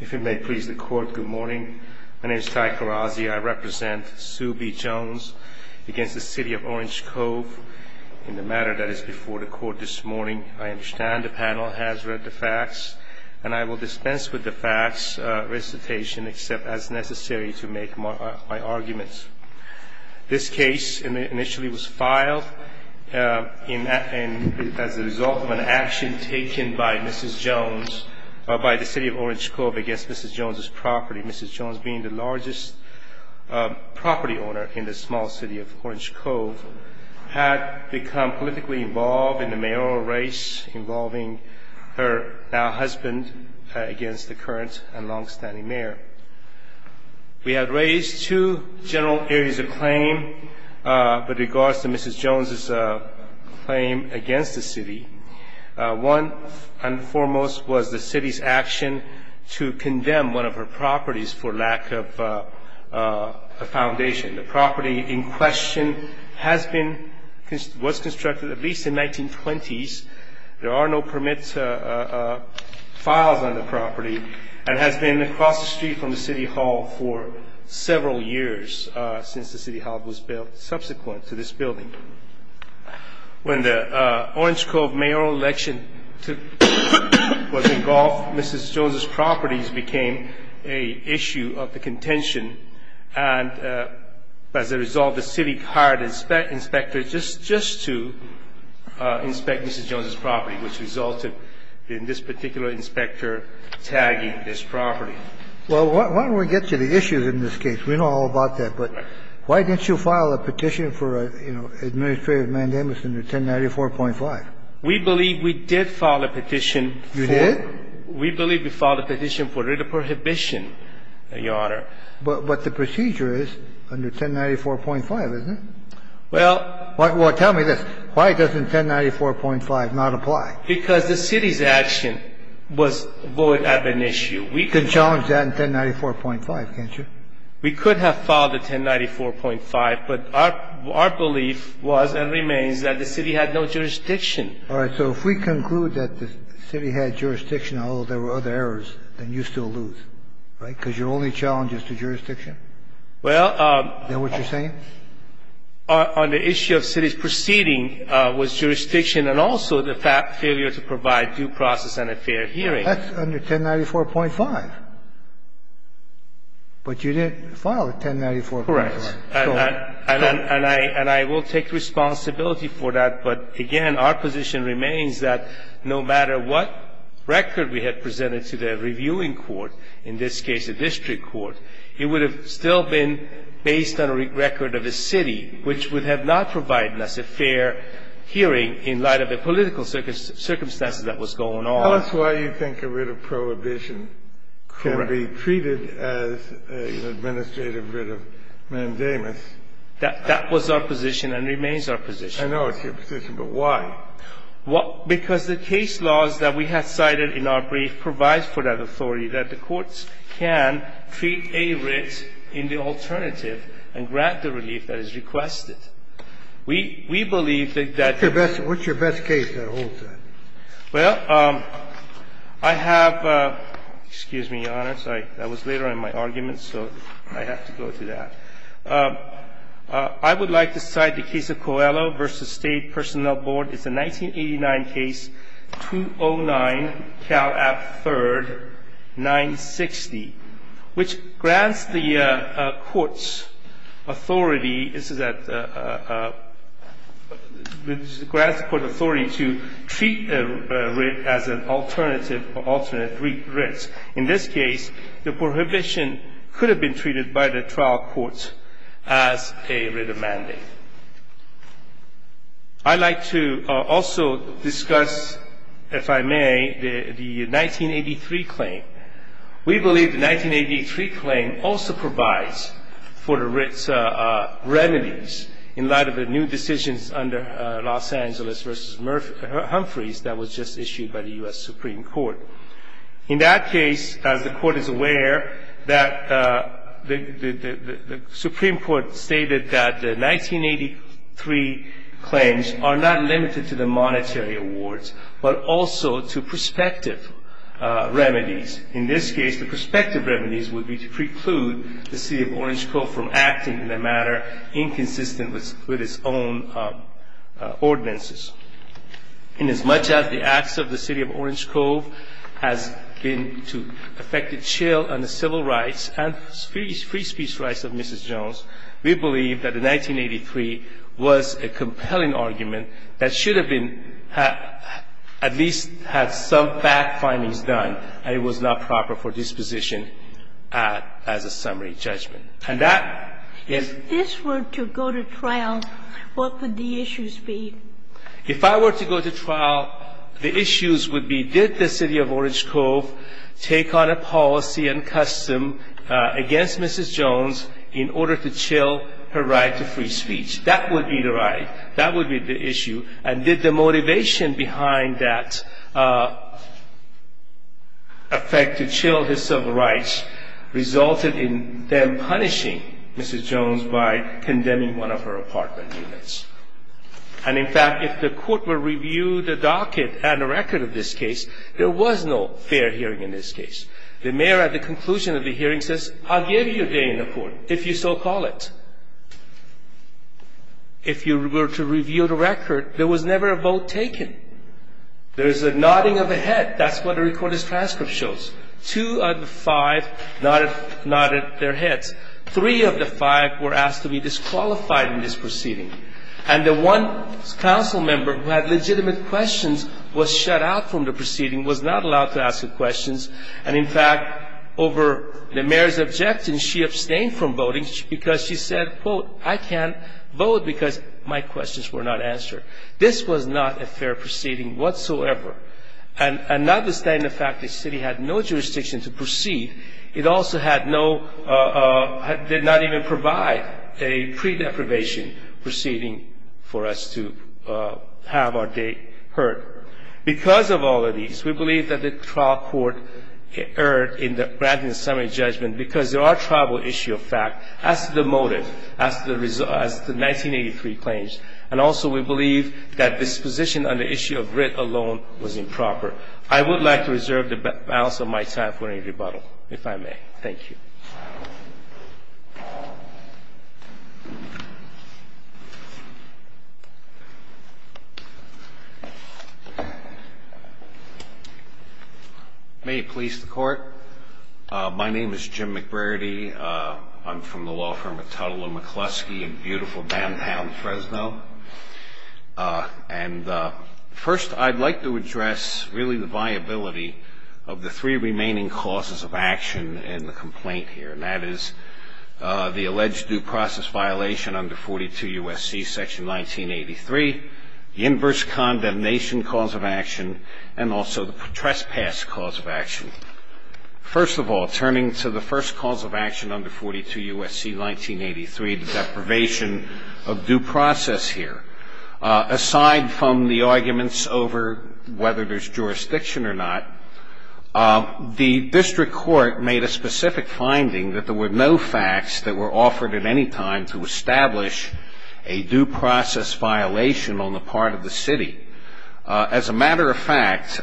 If it may please the court, good morning. My name is Ty Karazi. I represent Sue B. Jones against the City of Orange Cove. In the matter that is before the court this morning, I understand the panel has read the facts and I will dispense with the facts recitation except as necessary to make my arguments. This case initially was filed as a result of an action taken by Mrs. Jones by the City of Orange Cove against Mrs. Jones' property. Mrs. Jones being the largest property owner in the small city of Orange Cove had become politically involved in the mayoral race involving her now-husband against the current and long-standing mayor. We have raised two general areas of claim with regards to Mrs. Jones' claim against the City. One, and foremost, was the City's action to condemn one of her properties for lack of a foundation. The property in question was constructed at least in the 1920s. There are no permit files on the property and has been across the street from the City Hall for several years since the City Hall was built subsequent to this building. When the Orange Cove mayoral election was engulfed, Mrs. Jones' properties became an issue of contention and, as a result, the City hired inspectors just to inspect Mrs. Jones' property, which resulted in this particular inspector tagging this property. Well, why don't we get to the issues in this case? We know all about that, but why didn't you file a petition for, you know, Administrative Mandamus under 1094.5? We believe we did file a petition for the prohibition, Your Honor. But the procedure is under 1094.5, isn't it? Well... Well, tell me this. Why doesn't 1094.5 not apply? Because the City's action was void of an issue. You can challenge that in 1094.5, can't you? We could have filed a 1094.5, but our belief was and remains that the City had no jurisdiction. All right. So if we conclude that the City had jurisdiction, although there were other errors, then you still lose, right? Because your only challenge is to jurisdiction? Well... Is that what you're saying? On the issue of City's proceeding was jurisdiction and also the failure to provide due process and a fair hearing. That's under 1094.5. But you didn't file a 1094.5. Correct. And I will take responsibility for that. But, again, our position remains that no matter what record we had presented to the reviewing court, in this case a district court, it would have still been based on a record of the City, which would have not provided us a fair hearing in light of the political circumstances that was going on. Tell us why you think a writ of prohibition can be treated as an administrative writ of mandamus. That was our position and remains our position. I know it's your position, but why? Because the case laws that we have cited in our brief provide for that authority, that the courts can treat a writ in the alternative and grant the relief that is requested. We believe that... What's your best case that holds that? Well, I have — excuse me, Your Honor. Sorry. That was later in my argument, so I have to go to that. I would like to cite the case of Coelho v. State Personnel Board. It's a 1989 case, 209 Cal App III, 960, which grants the courts authority. It grants the court authority to treat a writ as an alternative or alternate writ. In this case, the prohibition could have been treated by the trial courts as a writ of mandate. I'd like to also discuss, if I may, the 1983 claim. We believe the 1983 claim also provides for the writ's remedies in light of the new decisions under Los Angeles v. Humphreys that was just issued by the U.S. Supreme Court. In that case, as the Court is aware, the Supreme Court stated that the 1983 claims are not limited to the monetary awards, but also to prospective remedies. In this case, the prospective remedies would be to preclude the City of Orange Cove from acting in a manner inconsistent with its own ordinances. Inasmuch as the acts of the City of Orange Cove has been to affect the chill on the civil rights and free speech rights of Mrs. Jones, we believe that the 1983 was a compelling argument that should have been at least had some fact findings done, and it was not proper for disposition as a summary judgment. And that is the case. If this were to go to trial, what would the issues be? If I were to go to trial, the issues would be did the City of Orange Cove take on a policy and custom against Mrs. Jones in order to chill her right to free speech? That would be the right. That would be the issue. And did the motivation behind that effect to chill his civil rights result in them punishing Mrs. Jones by condemning one of her apartment units? And in fact, if the Court were to review the docket and the record of this case, there was no fair hearing in this case. The mayor at the conclusion of the hearing says, I'll give you a day in the Court, if you so call it. If you were to review the record, there was never a vote taken. There is a nodding of a head. That's what the recorded transcript shows. Two of the five nodded their heads. Three of the five were asked to be disqualified in this proceeding. And the one council member who had legitimate questions was shut out from the proceeding, was not allowed to ask her questions. And in fact, over the mayor's objection, she abstained from voting because she said, quote, I can't vote because my questions were not answered. This was not a fair proceeding whatsoever. And notwithstanding the fact that the City had no jurisdiction to proceed, it also did not even provide a pre-deprivation proceeding for us to have our day heard. Because of all of these, we believe that the trial court erred in granting the summary judgment because there are tribal issues of fact as to the motive, as to the 1983 claims. And also, we believe that this position on the issue of writ alone was improper. I would like to reserve the balance of my time for any rebuttal, if I may. Thank you. May it please the Court. My name is Jim McBrady. I'm from the law firm of Tuttle and McCluskey in beautiful downtown Fresno. And first, I'd like to address really the viability of the three remaining causes of action in the complaint. And that is the alleged due process violation under 42 U.S.C. section 1983, the inverse condemnation cause of action, and also the trespass cause of action. First of all, turning to the first cause of action under 42 U.S.C. 1983, the deprivation of due process here. Aside from the arguments over whether there's jurisdiction or not, the district court made a specific finding that there were no facts that were offered at any time to establish a due process violation on the part of the city. As a matter of fact,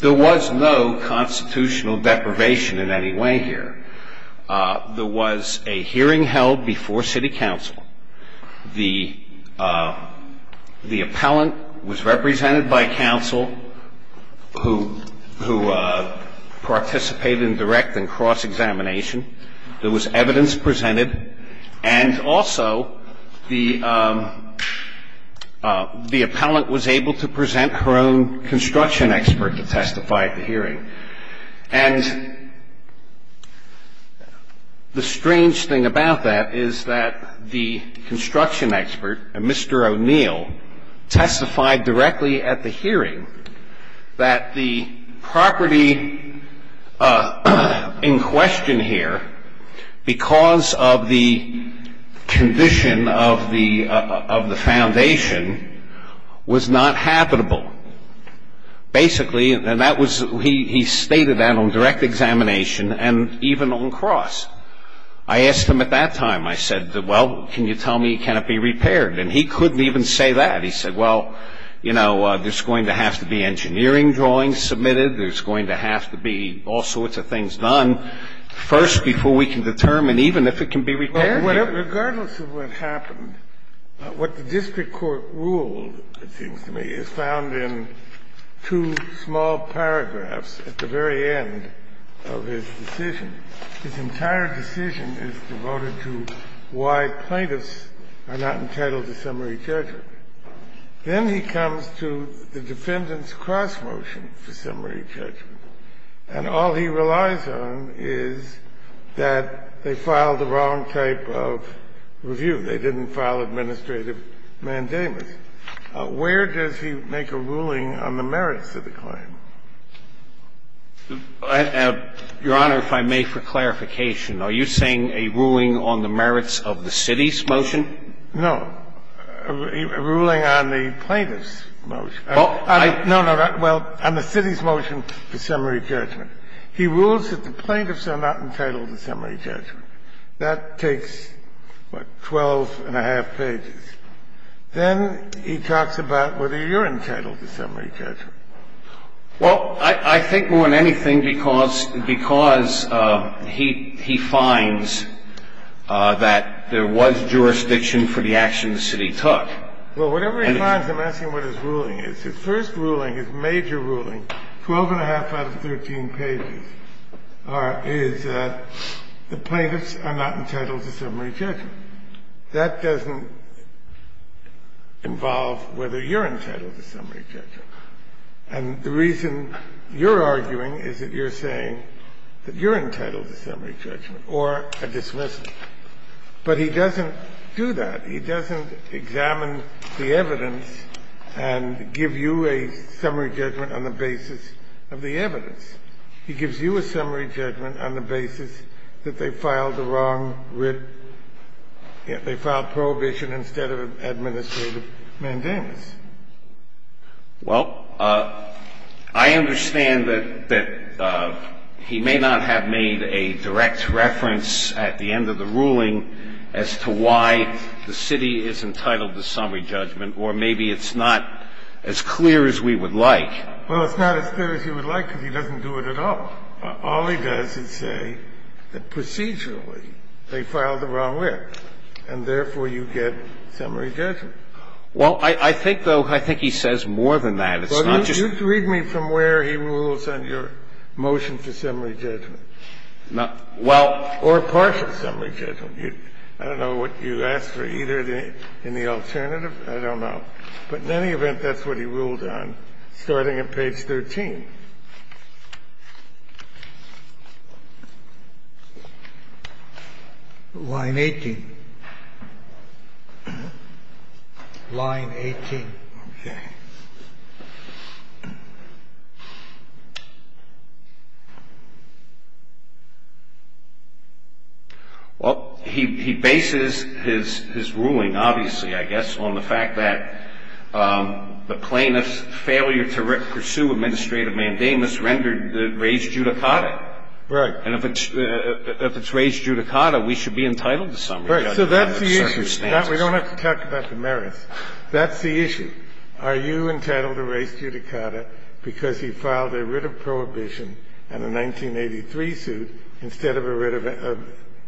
there was no constitutional deprivation in any way here. There was a hearing held before city council. The appellant was represented by council who participated in direct and cross-examination. There was evidence presented. And also, the appellant was able to present her own construction expert to testify at the hearing. And the strange thing about that is that the construction expert, Mr. O'Neill, testified directly at the hearing that the property in question here, because of the condition of the foundation, was not habitable. Basically, and that was he stated that on direct examination and even on cross. I asked him at that time, I said, well, can you tell me, can it be repaired? And he couldn't even say that. He said, well, you know, there's going to have to be engineering drawings submitted. There's going to have to be all sorts of things done first before we can determine even if it can be repaired. But regardless of what happened, what the district court ruled, it seems to me, is found in two small paragraphs at the very end of his decision. His entire decision is devoted to why plaintiffs are not entitled to summary judgment. Then he comes to the defendant's cross-motion for summary judgment. And all he relies on is that they filed the wrong type of review. They didn't file administrative mandamus. Where does he make a ruling on the merits of the claim? I have, Your Honor, if I may, for clarification. Are you saying a ruling on the merits of the city's motion? No. A ruling on the plaintiff's motion. No, no. Well, on the city's motion for summary judgment. He rules that the plaintiffs are not entitled to summary judgment. That takes, what, 12 and a half pages. Then he talks about whether you're entitled to summary judgment. Well, I think more than anything because he finds that there was jurisdiction for the action the city took. Well, whatever he finds, I'm asking what his ruling is. His first ruling, his major ruling, 12 and a half out of 13 pages, is that the plaintiffs are not entitled to summary judgment. That doesn't involve whether you're entitled to summary judgment. And the reason you're arguing is that you're saying that you're entitled to summary judgment or a dismissal. But he doesn't do that. He doesn't examine the evidence and give you a summary judgment on the basis of the evidence. He gives you a summary judgment on the basis that they filed the wrong writ. They filed prohibition instead of administrative mandamus. Well, I understand that he may not have made a direct reference at the end of the ruling as to why the city is entitled to summary judgment. Or maybe it's not as clear as we would like. Well, it's not as clear as you would like because he doesn't do it at all. All he does is say that procedurally they filed the wrong writ and, therefore, you get summary judgment. Well, I think, though, I think he says more than that. It's not just you. Well, you can read me from where he rules on your motion for summary judgment. Well, or partial summary judgment. I don't know what you asked for either in the alternative. I don't know. But in any event, that's what he ruled on, starting at page 13. Line 18. Line 18. Okay. Well, he bases his ruling, obviously, I guess, on the fact that the plaintiff's failure to pursue administrative mandamus rendered the res judicata. Right. And if it's res judicata, we should be entitled to summary judgment. Right. So that's the issue. We don't have to talk about the merits. That's the issue. Are you entitled to res judicata because he filed a writ of prohibition and a 1983 suit instead of a writ of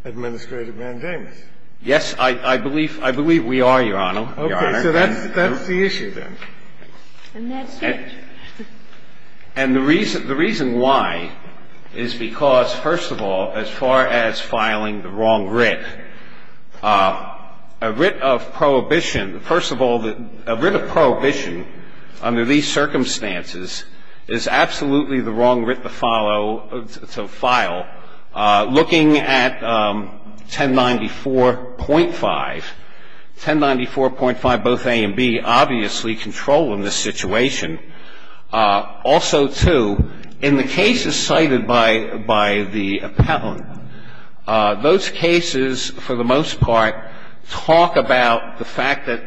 administrative mandamus? Yes, I believe we are, Your Honor. Okay. So that's the issue then. And that's it. And the reason why is because, first of all, as far as filing the wrong writ, a writ of prohibition, first of all, a writ of prohibition under these circumstances is absolutely the wrong writ to follow, to file. Looking at 1094.5, 1094.5, both A and B, obviously, control in this situation. Also, too, in the cases cited by the appellant, those cases, for the most part, talk about the fact that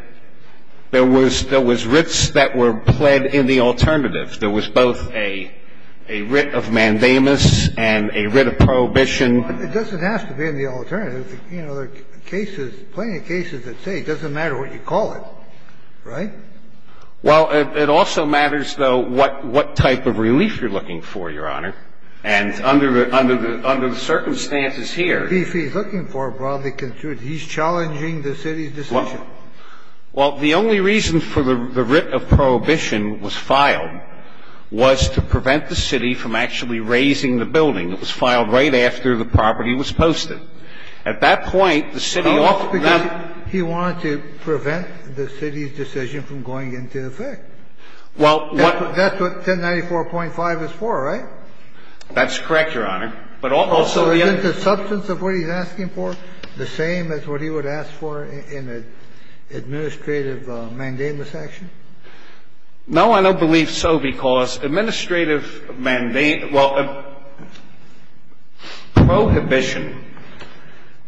there was writs that were pled in the alternative. There was both a writ of mandamus and a writ of prohibition. It doesn't have to be in the alternative. You know, there are cases, plenty of cases that say it doesn't matter what you call it. Right? Well, it also matters, though, what type of relief you're looking for, Your Honor. And under the circumstances here. If he's looking for a broadly construed, he's challenging the city's decision. Well, the only reason for the writ of prohibition was filed was to prevent the city from actually raising the building. It was filed right after the property was posted. At that point, the city offered that. No, it's because he wanted to prevent the city's decision from going into effect. Well, what. That's what 1094.5 is for, right? That's correct, Your Honor. But also the other. Well, is the importance of what he's asking for the same as what he would ask for in an administrative mandamus action? No, I don't believe so, because administrative mandamus. Well, prohibition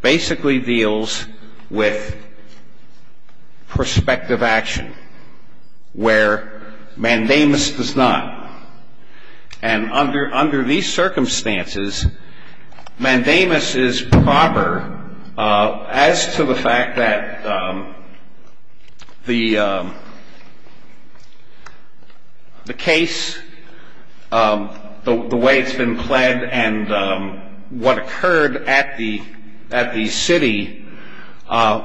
basically deals with prospective action where mandamus does not. And under these circumstances, mandamus is proper as to the fact that the case, the way it's been pled and what occurred at the city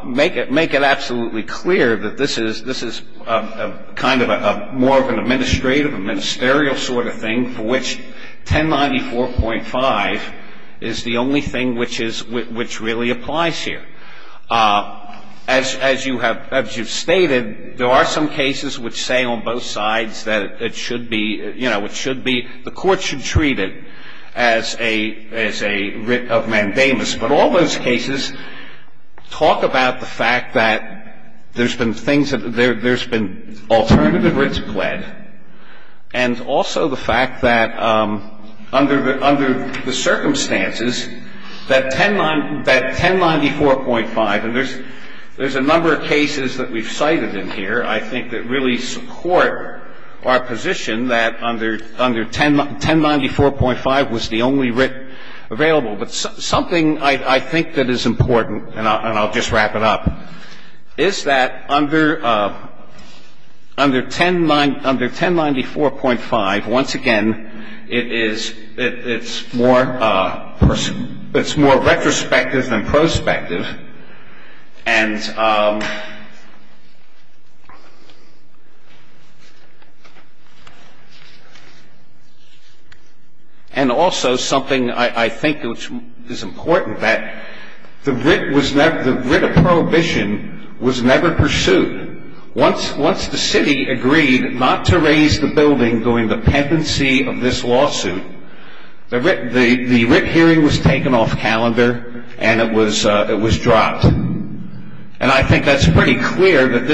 make it absolutely clear that this is kind of more of an administrative, a ministerial sort of thing for which 1094.5 is the only thing which really applies here. As you've stated, there are some cases which say on both sides that it should be, you know, the court should treat it as a writ of mandamus. But all those cases talk about the fact that there's been things that there's been alternative writs pled, and also the fact that under the circumstances that 1094.5, and there's a number of cases that we've cited in here I think that really support our position that under 1094.5 was the only writ available. But something I think that is important, and I'll just wrap it up, is that under 1094.5, once again, it's more retrospective than prospective. And also something I think is important, that the writ of prohibition was never pursued. Once the city agreed not to raise the building during the pendency of this lawsuit, the writ hearing was taken off calendar, and it was dropped. And I think that's pretty clear that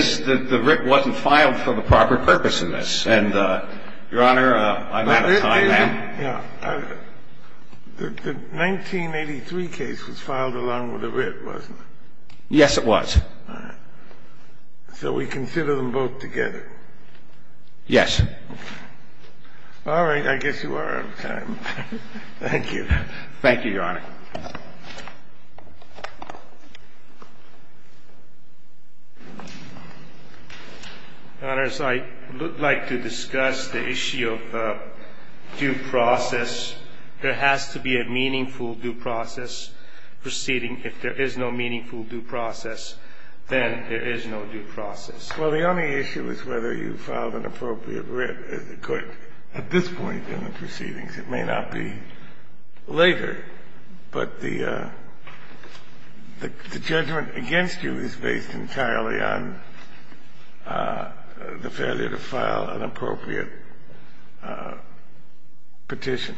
the writ wasn't filed for the proper purpose in this. And, Your Honor, I'm out of time. The 1983 case was filed along with the writ, wasn't it? Yes, it was. All right. So we consider them both together? Yes. All right. I guess you are out of time. Thank you. Thank you, Your Honor. Your Honors, I would like to discuss the issue of due process. There has to be a meaningful due process proceeding. If there is no meaningful due process, then there is no due process. Well, the only issue is whether you filed an appropriate writ at this point in the proceedings. It may not be later. But the judgment against you is based entirely on the failure to file an appropriate petition.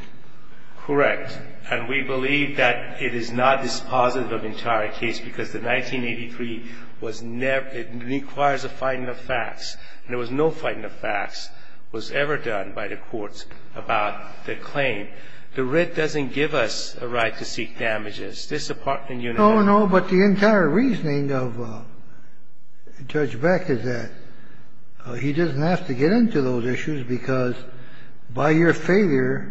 Correct. And we believe that it is not dispositive of the entire case because the 1983 was never it requires a finding of facts. There was no finding of facts was ever done by the courts about the claim. The writ doesn't give us a right to seek damages. This apartment unit does. No, no. But the entire reasoning of Judge Beck is that he doesn't have to get into those issues because by your failure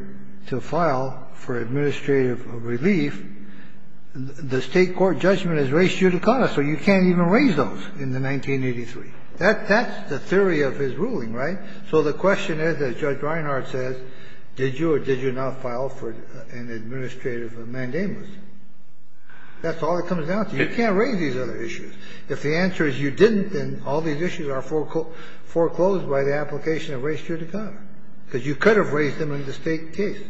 to file for administrative relief, the state court judgment has raised you to con us, so you can't even raise those in the 1983. That's the theory of his ruling, right? So the question is, as Judge Reinhart says, did you or did you not file for an administrative mandamus? That's all it comes down to. You can't raise these other issues. If the answer is you didn't, then all these issues are foreclosed by the application of race judicata, because you could have raised them in the State case.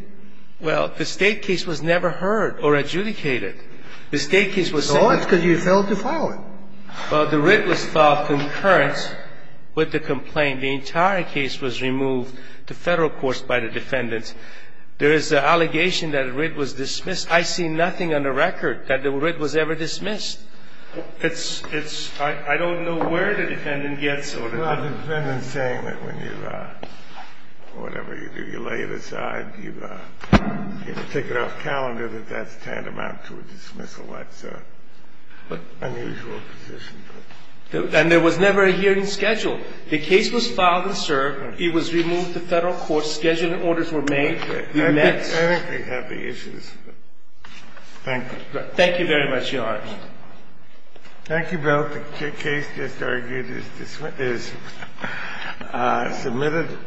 Well, the State case was never heard or adjudicated. The State case was set up. Oh, it's because you failed to file it. Well, the writ was filed concurrent with the complaint. The entire case was removed to Federal courts by the defendants. There is an allegation that the writ was dismissed. I see nothing on the record that the writ was ever dismissed. It's – it's – I don't know where the defendant gets it. Well, the defendant is saying that when you – whatever you do, you lay it aside, you take it off calendar, that that's tantamount to a dismissal. That's an unusual position. And there was never a hearing scheduled. The case was filed and served. It was removed to Federal courts. Scheduled orders were made. I think they have the issues. Thank you. Thank you very much, Your Honor. Thank you, Bill. The case just argued is – is submitted.